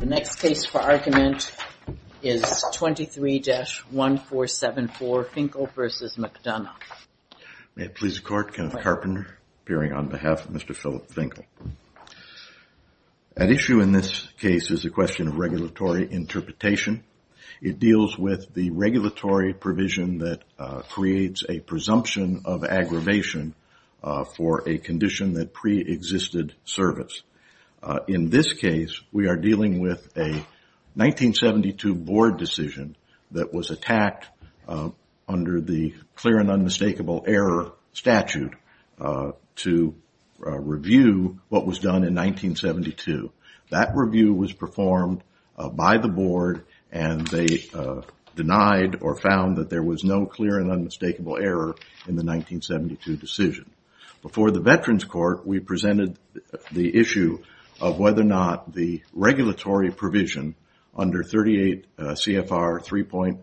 The next case for argument is 23-1474 Finkle v. McDonough. May it please the Court, Kenneth Carpenter appearing on behalf of Mr. Philip Finkle. At issue in this case is the question of regulatory interpretation. It deals with the regulatory provision that creates a presumption of aggravation for a condition that preexisted service. In this case, we are dealing with a 1972 board decision that was attacked under the clear and unmistakable error statute to review what was done in 1972. That review was performed by the board and they denied or found that there was no clear and unmistakable error in the 1972 decision. Before the Veterans Court, we presented the issue of whether or not the regulatory provision under 38 CFR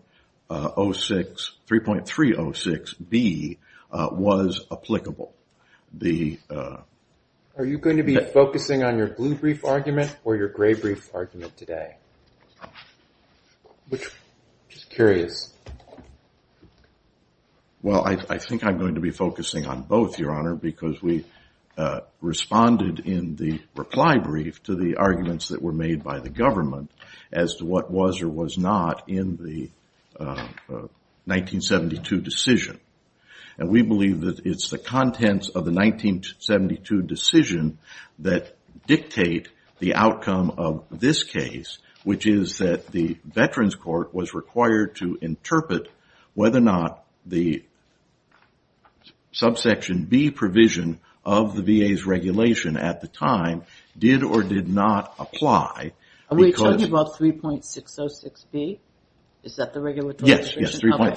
3.306B was applicable. Are you going to be focusing on your blue brief argument or your gray brief argument today? I'm just curious. Well, I think I'm going to be focusing on both, Your Honor, because we responded in the reply brief to the arguments that were made by the government as to what was or was not in the 1972 decision. And we believe that it's the contents of the 1972 decision that dictate the outcome of this case, which is that the Veterans Court was required to interpret whether or not the subsection B provision of the VA's regulation at the time did or did not apply. Are we talking about 3.606B? Is that the regulatory provision? Yes, yes,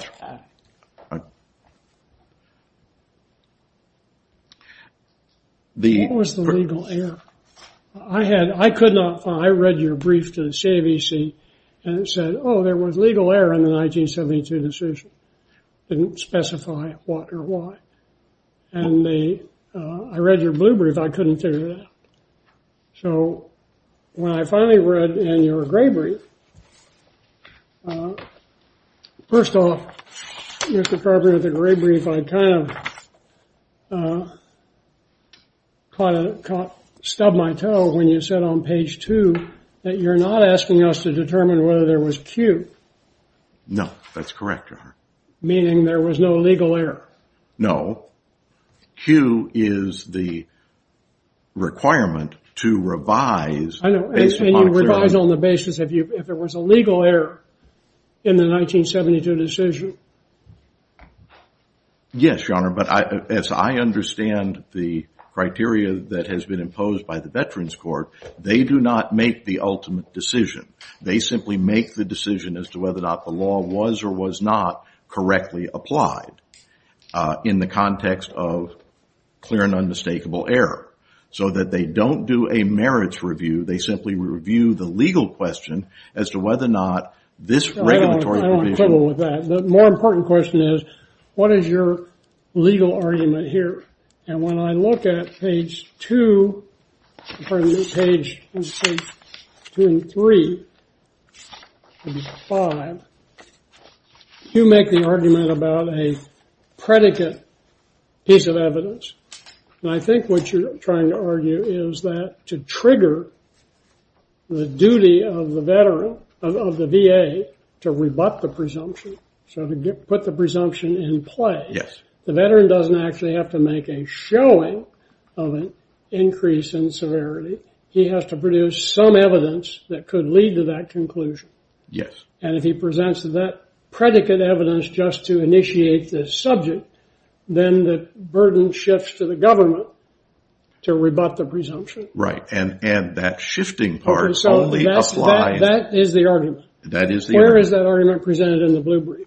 3.306B. What was the legal error? I read your brief to the CAVC and it said, oh, there was legal error in the 1972 decision. It didn't specify what or why. And I read your blue brief, I couldn't figure that out. So when I finally read in your gray brief, first off, Mr. Carpenter, the gray brief, I kind of stubbed my toe when you said on page two that you're not asking us to determine whether there was Q. No, that's correct, Your Honor. Meaning there was no legal error. No. Q is the requirement to revise. I know. And you revise on the basis of if there was a legal error in the 1972 decision. Yes, Your Honor. But as I understand the criteria that has been imposed by the Veterans Court, they do not make the ultimate decision. They simply make the decision as to whether or not the law was or was not correctly applied. In the context of clear and unmistakable error. So that they don't do a merits review, they simply review the legal question as to whether or not this regulatory provision. I don't quibble with that. The more important question is, what is your legal argument here? And when I look at page two, pardon me, page two and three, five, you make the argument about a predicate piece of evidence. And I think what you're trying to argue is that to trigger the duty of the VA to rebut the presumption, so to put the presumption in play, the veteran doesn't actually have to make a showing of an increase in severity. He has to produce some evidence that could lead to that conclusion. Yes. And if he presents that predicate evidence just to initiate the subject, then the burden shifts to the government to rebut the presumption. Right. And that shifting part only applies. That is the argument. That is the argument. That is the argument presented in the blue brief.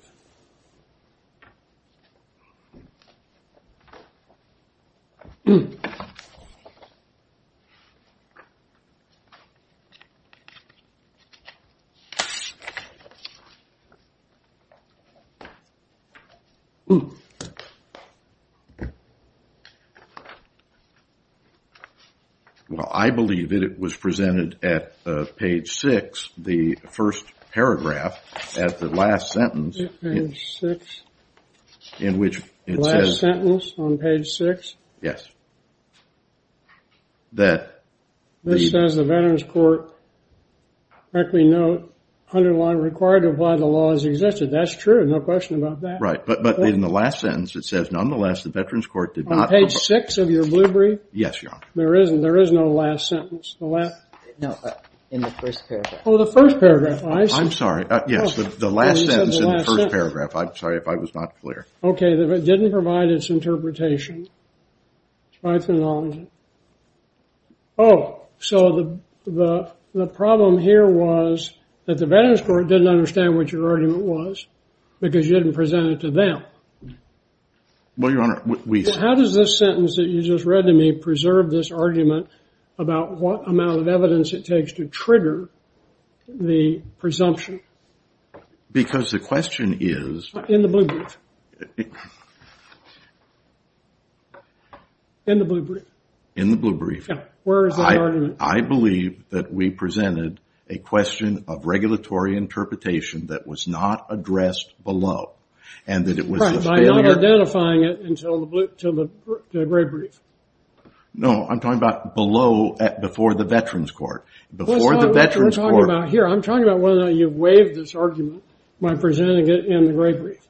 Well, I believe that it was presented at page six, the first paragraph at the last sentence. Page six. In which it says. The last sentence on page six. Yes. This says the Veterans Court correctly note underline required to apply the law as existed. That's true. No question about that. Right. But in the last sentence, it says, nonetheless, the Veterans Court did not. On page six of your blue brief. Yes, Your Honor. There is no last sentence. No, in the first paragraph. Oh, the first paragraph. I'm sorry. Yes, the last sentence in the first paragraph. I'm sorry if I was not clear. Okay. It didn't provide its interpretation. Oh, so the problem here was that the Veterans Court didn't understand what your argument was because you didn't present it to them. Well, Your Honor, we. How does this sentence that you just read to me preserve this argument about what amount of evidence it takes to trigger the presumption? Because the question is. In the blue brief. In the blue brief. In the blue brief. Where is that argument? I believe that we presented a question of regulatory interpretation that was not addressed below. By not identifying it until the gray brief. No, I'm talking about below, before the Veterans Court. Before the Veterans Court. That's not what we're talking about here. I'm talking about whether you waived this argument by presenting it in the gray brief.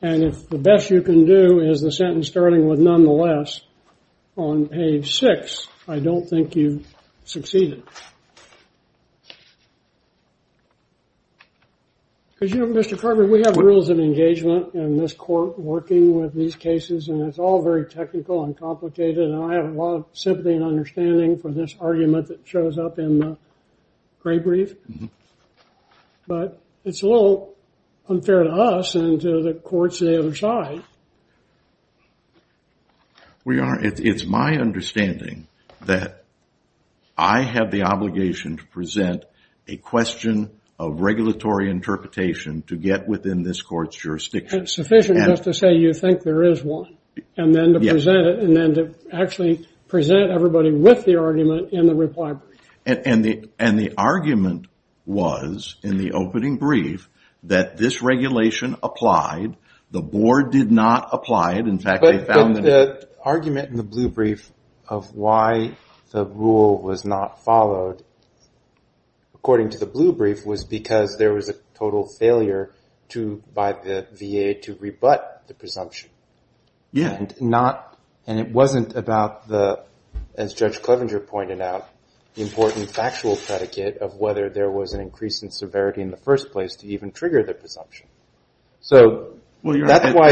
And if the best you can do is the sentence starting with nonetheless on page six, I don't think you've succeeded. Because, you know, Mr. Carter, we have rules of engagement in this court working with these cases, and it's all very technical and complicated. And I have a lot of sympathy and understanding for this argument that shows up in the gray brief. But it's a little unfair to us and to the courts on the other side. Well, Your Honor, it's my understanding that I have the obligation to present a question of regulatory interpretation to get within this court's jurisdiction. It's sufficient just to say you think there is one, and then to present it, and then to actually present everybody with the argument in the reply brief. And the argument was, in the opening brief, that this regulation applied. The board did not apply it. In fact, they found that. The argument in the blue brief of why the rule was not followed, according to the blue brief, was because there was a total failure by the VA to rebut the presumption. And it wasn't about, as Judge Clevenger pointed out, the important factual predicate of whether there was an increase in severity in the first place to even trigger the presumption. So that's why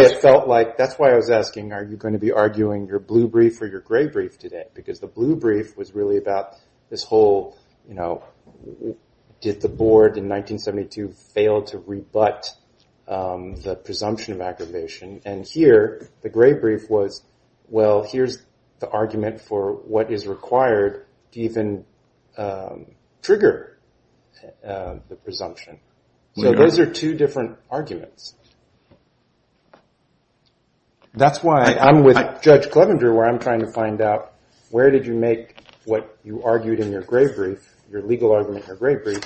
I was asking, are you going to be arguing your blue brief or your gray brief today? Because the blue brief was really about this whole, did the board in 1972 fail to rebut the presumption of aggravation? And here, the gray brief was, well, here's the argument for what is required to even trigger the presumption. So those are two different arguments. That's why I'm with Judge Clevenger, where I'm trying to find out, where did you make what you argued in your gray brief, your legal argument in your gray brief,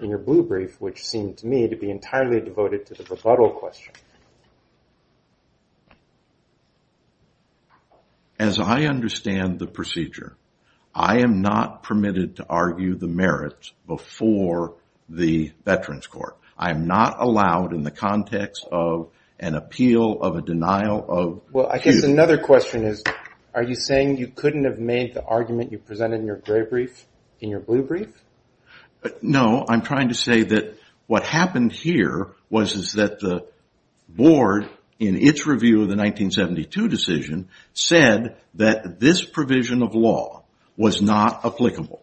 in your blue brief, which seemed to me to be entirely devoted to the rebuttal question? As I understand the procedure, I am not permitted to argue the merits before the Veterans Court. I am not allowed in the context of an appeal of a denial of duty. Well, I guess another question is, are you saying you couldn't have made the argument you presented in your gray brief in your blue brief? No, I'm trying to say that what happened here was that the board, in its review of the 1972 decision, said that this provision of law was not applicable.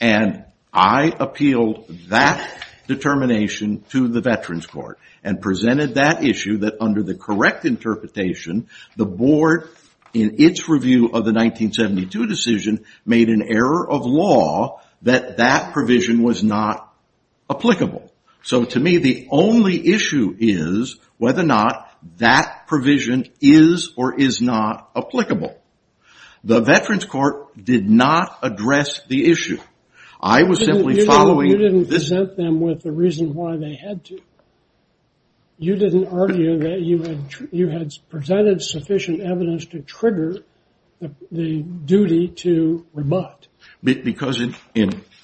And I appealed that determination to the Veterans Court and presented that issue that, under the correct interpretation, the board, in its review of the 1972 decision, made an error of law that that provision was not applicable. So to me, the only issue is whether or not that provision is or is not applicable. The Veterans Court did not address the issue. I was simply following this. You didn't present them with the reason why they had to. You didn't argue that you had presented sufficient evidence to trigger the duty to rebut. Because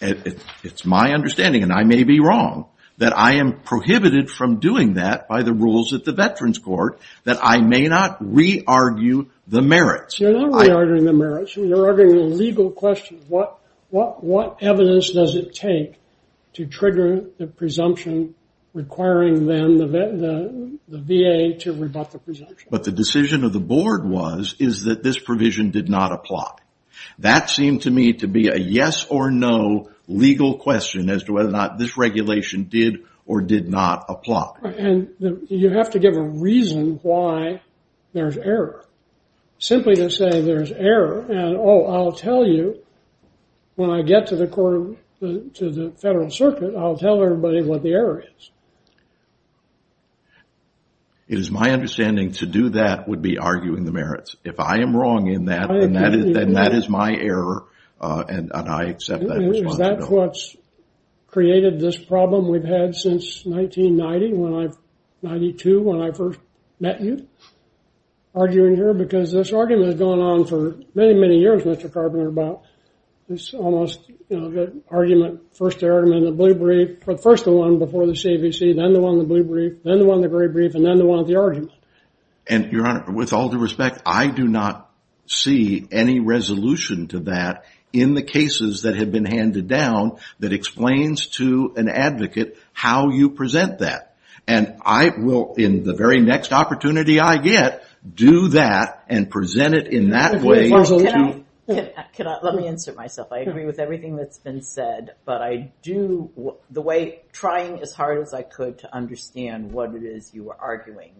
it's my understanding, and I may be wrong, that I am prohibited from doing that by the rules at the Veterans Court, that I may not re-argue the merits. You're not re-arguing the merits. You're arguing a legal question. What evidence does it take to trigger the presumption requiring then the VA to rebut the presumption? But the decision of the board was, is that this provision did not apply. That seemed to me to be a yes or no legal question as to whether or not this regulation did or did not apply. And you have to give a reason why there's error. Simply to say there's error and, oh, I'll tell you when I get to the federal circuit, I'll tell everybody what the error is. It is my understanding to do that would be arguing the merits. If I am wrong in that, then that is my error, and I accept that responsibility. Is that what's created this problem we've had since 1990, 1992, when I first met you, arguing here? Because this argument has gone on for many, many years, Mr. Carpenter, about this almost, you know, good argument. First the argument in the blue brief, first the one before the CVC, then the one in the blue brief, then the one in the gray brief, and then the one with the argument. And, Your Honor, with all due respect, I do not see any resolution to that in the cases that have been handed down that explains to an advocate how you present that. And I will, in the very next opportunity I get, do that and present it in that way. Can I, let me insert myself. I agree with everything that's been said, but I do, the way, trying as hard as I could to understand what it is you were arguing,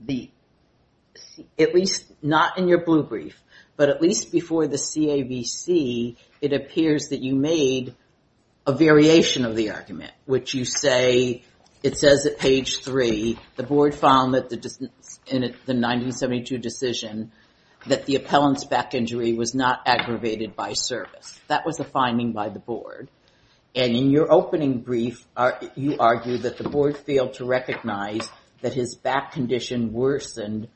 the, at least, not in your blue brief, but at least before the CAVC, it appears that you made a variation of the argument, which you say, it says at page three, the board found that the 1972 decision, that the appellant's back injury was not aggravated by service. That was the finding by the board. And in your opening brief, you argued that the board failed to recognize that his back condition worsened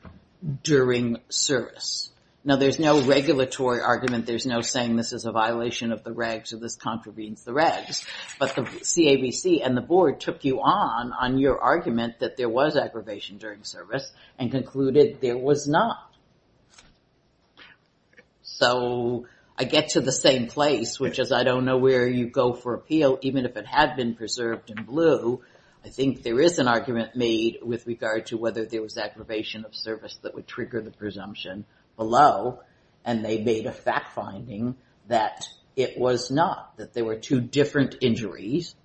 during service. Now there's no regulatory argument, there's no saying this is a violation of the regs or this contravenes the regs. But the CAVC and the board took you on, on your argument that there was aggravation during service and concluded there was not. So I get to the same place, which is I don't know where you go for appeal, even if it had been preserved in blue. I think there is an argument made with regard to whether there was aggravation of service that would trigger the presumption below. And they made a fact finding that it was not, that there were two different injuries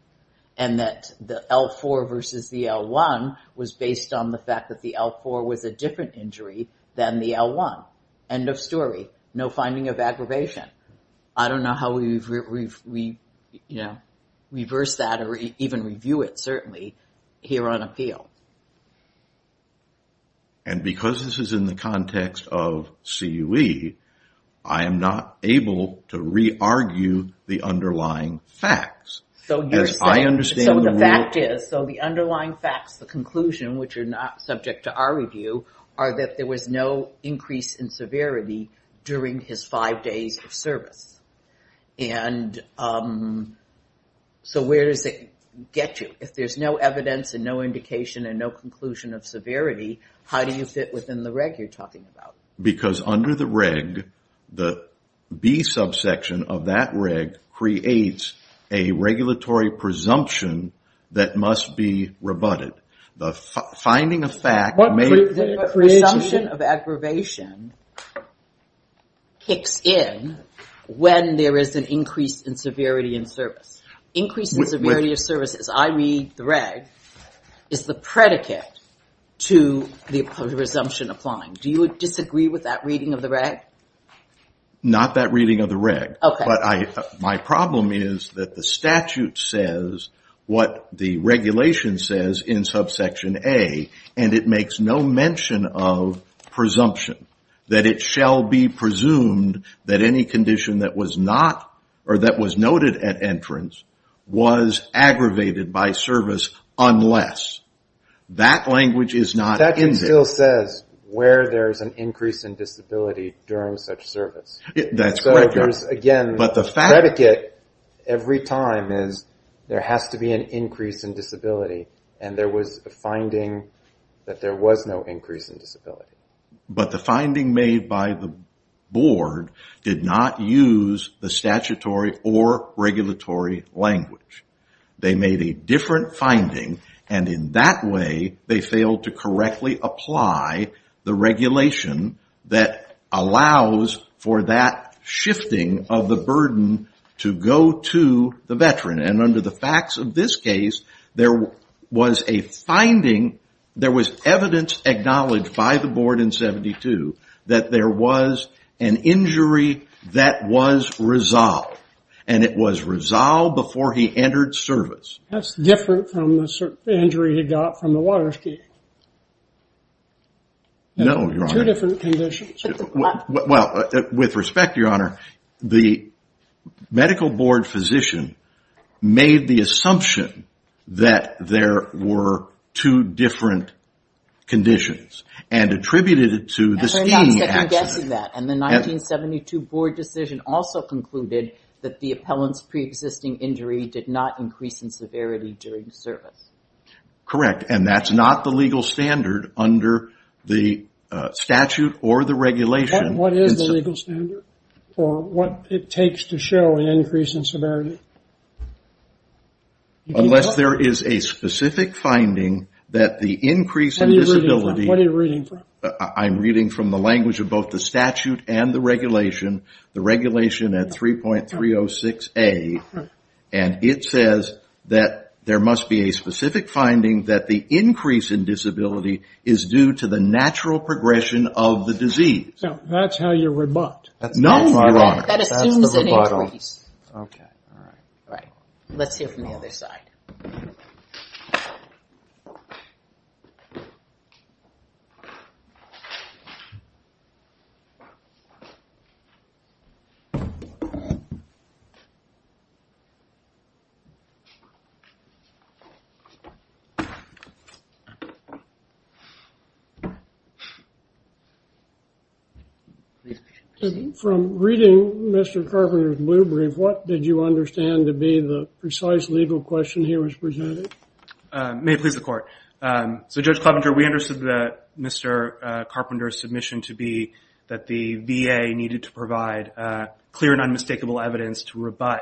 and that the L4 versus the L1 was based on the fact that the L4 was a different injury than the L1. End of story. No finding of aggravation. I don't know how we reverse that or even review it, certainly, here on appeal. And because this is in the context of CUE, I am not able to re-argue the underlying facts. So the underlying facts, the conclusion, which are not subject to our review, are that there was no increase in severity during his five days of service. And so where does it get you? If there is no evidence and no indication and no conclusion of severity, how do you fit within the reg you are talking about? Because under the reg, the B subsection of that reg creates a regulatory presumption that must be rebutted. The finding of fact may create a presumption of aggravation kicks in when there is an increase in severity in service. Increase in severity of service, as I read the reg, is the predicate to the presumption applying. Do you disagree with that reading of the reg? Not that reading of the reg. But my problem is that the statute says what the regulation says in subsection A, and it makes no mention of presumption. That it shall be presumed that any condition that was noted at entrance was aggravated by service unless. That language is not in there. That still says where there is an increase in disability during such service. That's correct. So again, the predicate every time is there has to be an increase in disability, and there was a finding that there was no increase in disability. But the finding made by the board did not use the statutory or regulatory language. They made a different finding, and in that way, they failed to correctly apply the regulation that allows for that shifting of the burden to go to the veteran. And under the facts of this case, there was a finding, there was evidence acknowledged by the board in 72 that there was an injury that was resolved. And it was resolved before he entered service. That's different from the injury he got from the water skiing. No, Your Honor. Two different conditions. Well, with respect, Your Honor, the medical board physician made the assumption that there were two different conditions and attributed it to the skiing accident. And the 1972 board decision also concluded that the appellant's preexisting injury did not increase in severity during service. And that's not the legal standard under the statute or the regulation. What is the legal standard for what it takes to show an increase in severity? Unless there is a specific finding that the increase in disability... What are you reading from? I'm reading from the language of both the statute and the regulation, the regulation at 3.306A. And it says that there must be a specific finding that the increase in disability is due to the natural progression of the disease. That's how you rebut. No, Your Honor. That assumes an increase. Okay. All right. Let's hear from the other side. Please proceed. From reading Mr. Carpenter's blue brief, what did you understand to be the precise legal question he was presenting? It may please the court. So, Judge Clevenger, we understood that Mr. Carpenter's submission to be that the VA needed to provide clear and unmistakable evidence to rebut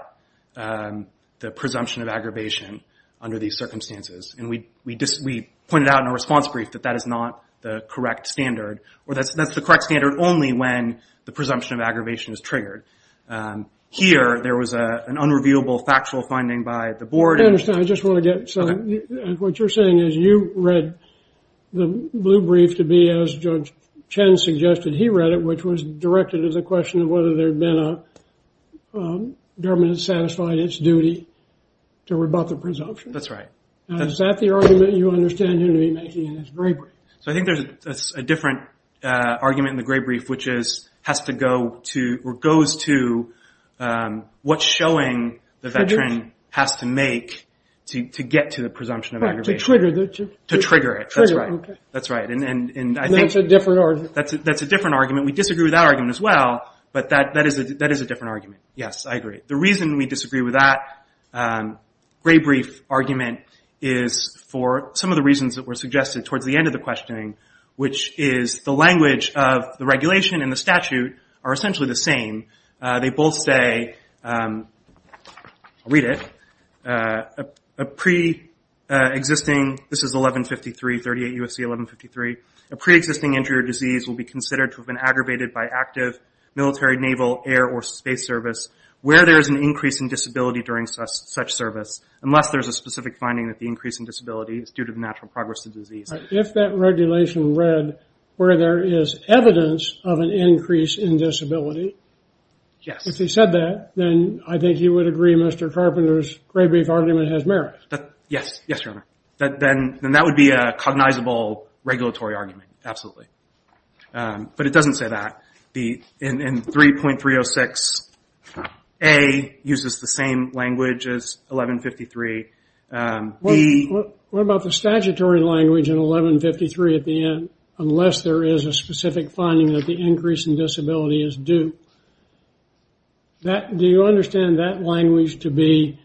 the presumption of aggravation under these circumstances. And we pointed out in our response brief that that is not the correct standard, or that's the correct standard only when the presumption of aggravation is triggered. Here, there was an unrevealable factual finding by the board. I understand. What you're saying is you read the blue brief to be, as Judge Chen suggested he read it, which was directed as a question of whether there had been a government that satisfied its duty to rebut the presumption. That's right. Is that the argument you understand him to be making in his gray brief? So, I think there's a different argument in the gray brief, which goes to what showing the veteran has to make to get to the presumption of aggravation. To trigger it. To trigger it. That's right. And that's a different argument. That's a different argument. We disagree with that argument as well, but that is a different argument. Yes, I agree. The reason we disagree with that gray brief argument is for some of the reasons that were suggested towards the end of the questioning, which is the language of the regulation and the statute are essentially the same. They both say, I'll read it, a pre-existing, this is 1153, 38 U.S.C. 1153, a pre-existing injury or disease will be considered to have been aggravated by active military, naval, air, or space service where there is an increase in disability during such service, unless there is a specific finding that the increase in disability is due to the natural progress of the disease. If that regulation read where there is evidence of an increase in disability, if they said that, then I think you would agree Mr. Carpenter's gray brief argument has merit. Yes. Yes, Your Honor. Then that would be a cognizable regulatory argument. Absolutely. But it doesn't say that. In 3.306A uses the same language as 1153. What about the statutory language in 1153 at the end, unless there is a specific finding that the increase in disability is due? Do you understand that language to be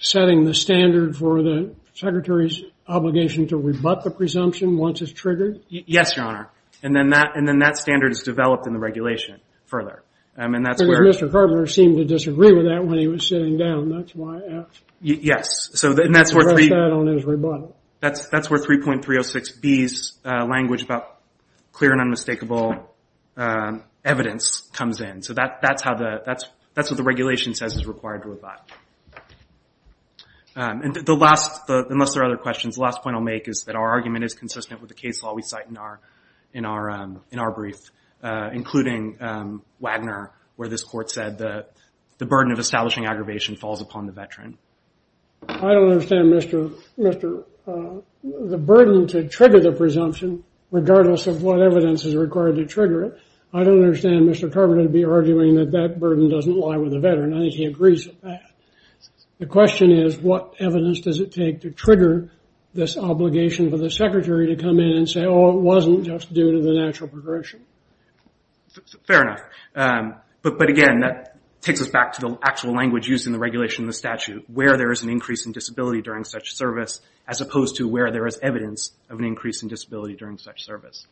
setting the standard for the secretary's obligation to rebut the presumption once it's triggered? Yes, Your Honor. And then that standard is developed in the regulation further. Because Mr. Carpenter seemed to disagree with that when he was sitting down, that's why I asked. Yes. And that's where 3.306B's language about clear and unmistakable evidence comes in. So that's what the regulation says is required to rebut. And the last, unless there are other questions, the last point I'll make is that our argument is consistent with the case law we cite in our brief, including Wagner, where this court said the burden of establishing aggravation falls upon the veteran. I don't understand, Mr. The burden to trigger the presumption, regardless of what evidence is required to trigger it, I don't understand Mr. Carpenter to be arguing that that burden doesn't lie with the veteran. I think he agrees with that. The question is, what evidence does it take to trigger this obligation for the secretary to come in and say, Oh, it wasn't just due to the natural progression. Fair enough. But again, that takes us back to the actual language used in the regulation of the statute, where there is an increase in disability during such service, as opposed to where there is evidence of an increase in disability during such service.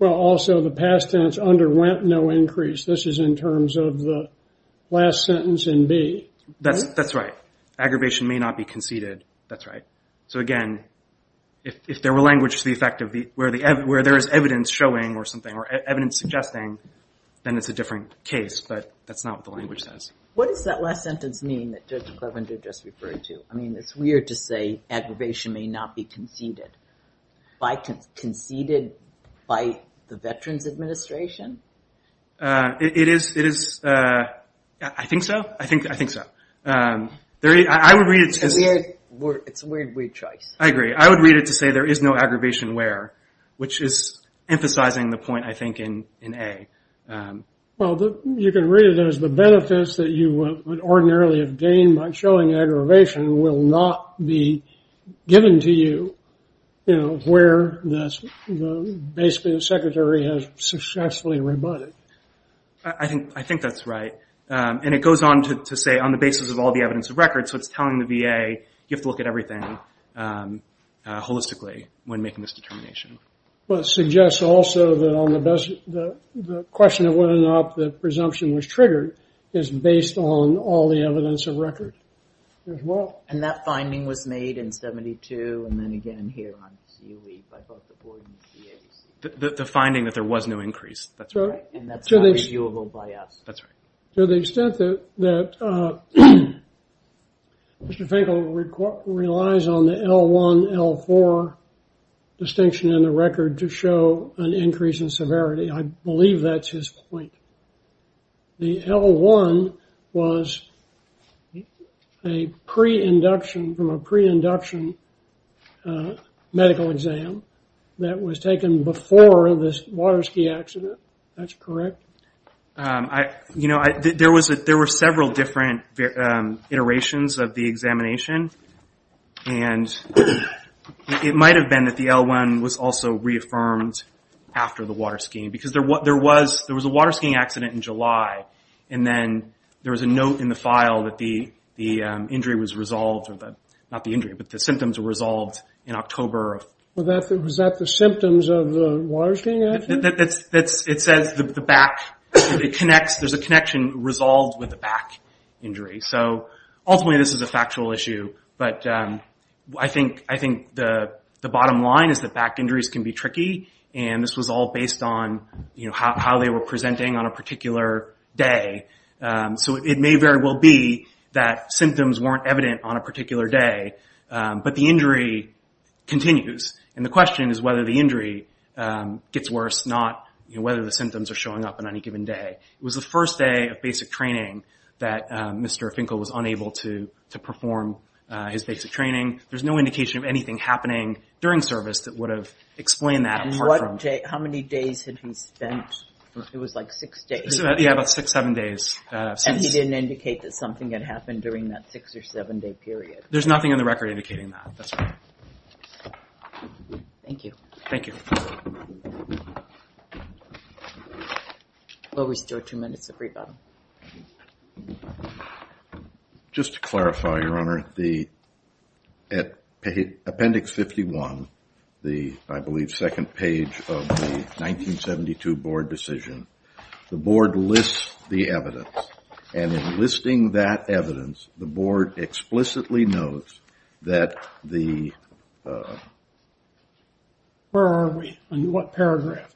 Well, also, the past tense underwent no increase. This is in terms of the last sentence in B. That's right. Aggravation may not be conceded. That's right. So again, if there were language to the effect of where there is evidence showing or something, or evidence suggesting, then it's a different case. But that's not what the language says. What does that last sentence mean that Judge Clevenger just referred to? I mean, it's weird to say aggravation may not be conceded. Conceded by the Veterans Administration? It is. I think so. I think so. It's a weird, weird choice. I agree. I would read it to say there is no aggravation where, which is emphasizing the point, I think, in A. Well, you can read it as the benefits that you would ordinarily have gained by showing aggravation will not be given to you where the basement secretary has successfully rebutted. I think that's right. And it goes on to say on the basis of all the evidence of record. So it's telling the VA you have to look at everything holistically when making this determination. Well, it suggests also that on the question of whether or not the presumption was triggered is based on all the evidence of record as well. And that finding was made in 72 and then again here on QE by both the board and the VA. The finding that there was no increase. That's right. And that's not reviewable by us. That's right. To the extent that Mr. Finkel relies on the L1, L4 distinction in the record to show an increase in severity, I believe that's his point. The L1 was a pre-induction from a pre-induction medical exam that was taken before this water ski accident. That's correct? You know, there were several different iterations of the examination. And it might have been that the L1 was also reaffirmed after the water skiing. Because there was a water skiing accident in July. And then there was a note in the file that the injury was resolved. Not the injury, but the symptoms were resolved in October. Was that the symptoms of the water skiing accident? It says the back. There's a connection resolved with the back injury. So ultimately this is a factual issue. But I think the bottom line is that back injuries can be tricky. And this was all based on how they were presenting on a particular day. So it may very well be that symptoms weren't evident on a particular day. But the injury continues. And the question is whether the injury gets worse, not whether the symptoms are showing up on any given day. It was the first day of basic training that Mr. Finkel was unable to perform his basic training. There's no indication of anything happening during service that would have explained that. How many days had he spent? It was like six days. Yeah, about six, seven days. And he didn't indicate that something had happened during that six or seven day period. There's nothing on the record indicating that, that's all. Thank you. Thank you. We'll restore two minutes of rebuttal. Just to clarify, Your Honor, the appendix 51, the, I believe, second page of the 1972 board decision, the board lists the evidence. And in listing that evidence, the board explicitly notes that the... Where are we? On what paragraph?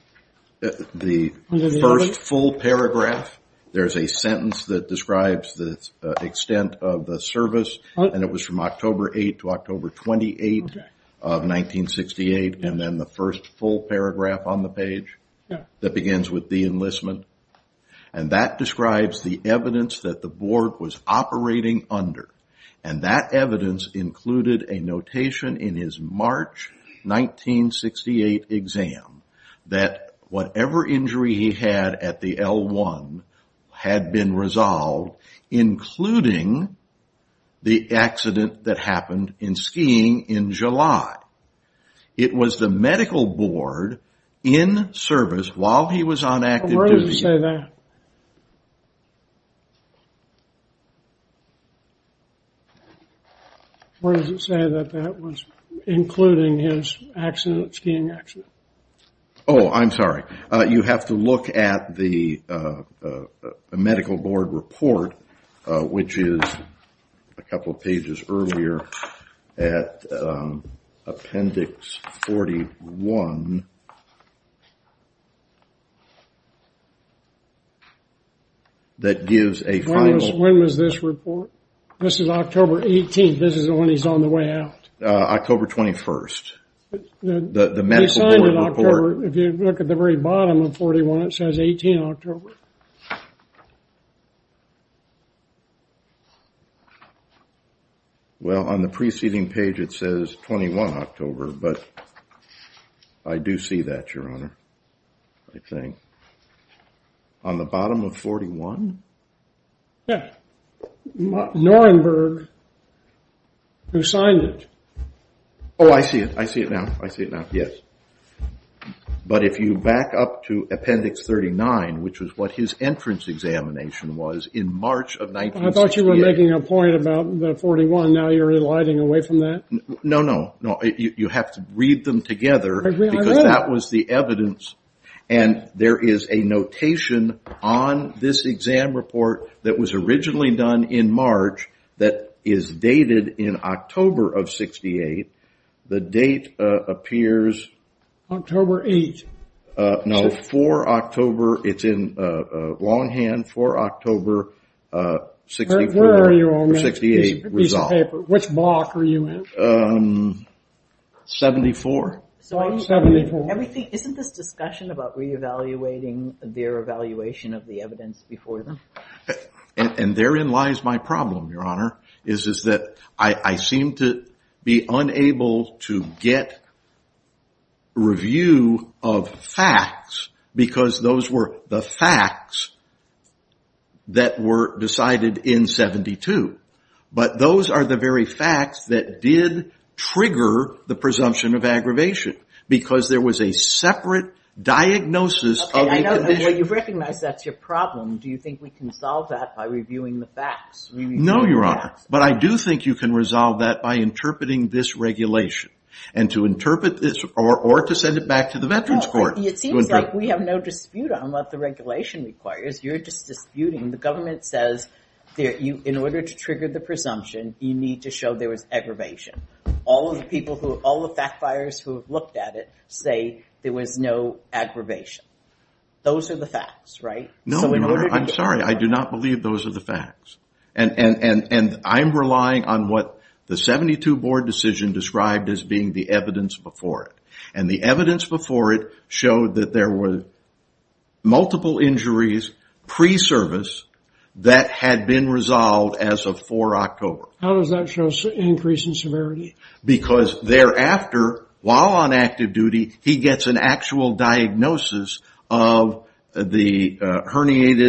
The first full paragraph. There's a sentence that describes the extent of the service. And it was from October 8 to October 28 of 1968. And then the first full paragraph on the page that begins with the enlistment. And that describes the evidence that the board was operating under. And that evidence included a notation in his March 1968 exam that whatever injury he had at the L1 had been resolved, including the accident that happened in skiing in July. It was the medical board in service while he was on active duty. Where does it say that? Where does it say that that was including his accident, skiing accident? Oh, I'm sorry. You have to look at the medical board report, which is a couple of pages earlier at Appendix 41. That gives a final... When was this report? This is October 18. This is when he's on the way out. October 21. The medical board report... If you look at the very bottom of 41, it says 18 October. Well, on the preceding page, it says 21 October. But I do see that, Your Honor, I think. On the bottom of 41? Yes. Norenberg, who signed it. Oh, I see it. I see it now. I see it now. Yes. But if you back up to Appendix 39, which was what his entrance examination was in March of 1968... I thought you were making a point about 41. Now you're eliding away from that? No, no. You have to read them together because that was the evidence. And there is a notation on this exam report that was originally done in March that is dated in October of 68. The date appears... October 8. No, 4 October. It's in longhand, 4 October, 64... Where are you on that piece of paper? Which block are you in? 74. Isn't this discussion about re-evaluating their evaluation of the evidence before them? And therein lies my problem, Your Honor, is that I seem to be unable to get review of facts because those were the facts that were decided in 72. But those are the very facts that did trigger the presumption of aggravation because there was a separate diagnosis of the condition. Okay, I know. You've recognized that's your problem. Do you think we can solve that by reviewing the facts? No, Your Honor. But I do think you can resolve that by interpreting this regulation and to interpret this or to send it back to the Veterans Court. It seems like we have no dispute on what the regulation requires. You're just disputing. The government says that in order to trigger the presumption, you need to show there was aggravation. All the fact buyers who have looked at it say there was no aggravation. Those are the facts, right? No, Your Honor. I'm sorry. I do not believe those are the facts. And I'm relying on what the 72 board decision described as being the evidence before it. And the evidence before it showed that there were multiple injuries pre-service that had been resolved as of 4 October. How does that show an increase in severity? Because thereafter, while on active duty, he gets an actual diagnosis of the herniated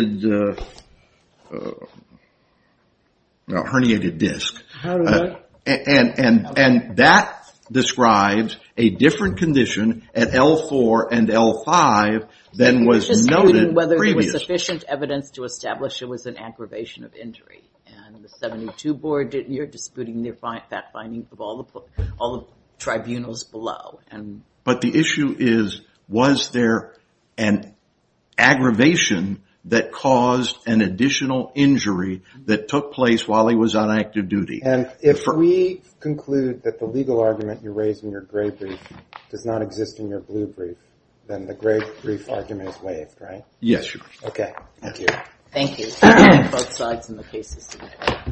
disc. And that describes a different condition at L4 and L5 than was noted previously. You're disputing whether there was sufficient evidence to establish there was an aggravation of injury. And the 72 board, you're disputing that finding of all the tribunals below. But the issue is, was there an aggravation that caused an additional injury that took place while he was on active duty? And if we conclude that the legal argument you raised in your gray brief does not exist in your blue brief, then the gray brief argument is waived, right? Yes, Your Honor. Okay. Thank you. Thank you. Both sides in the case.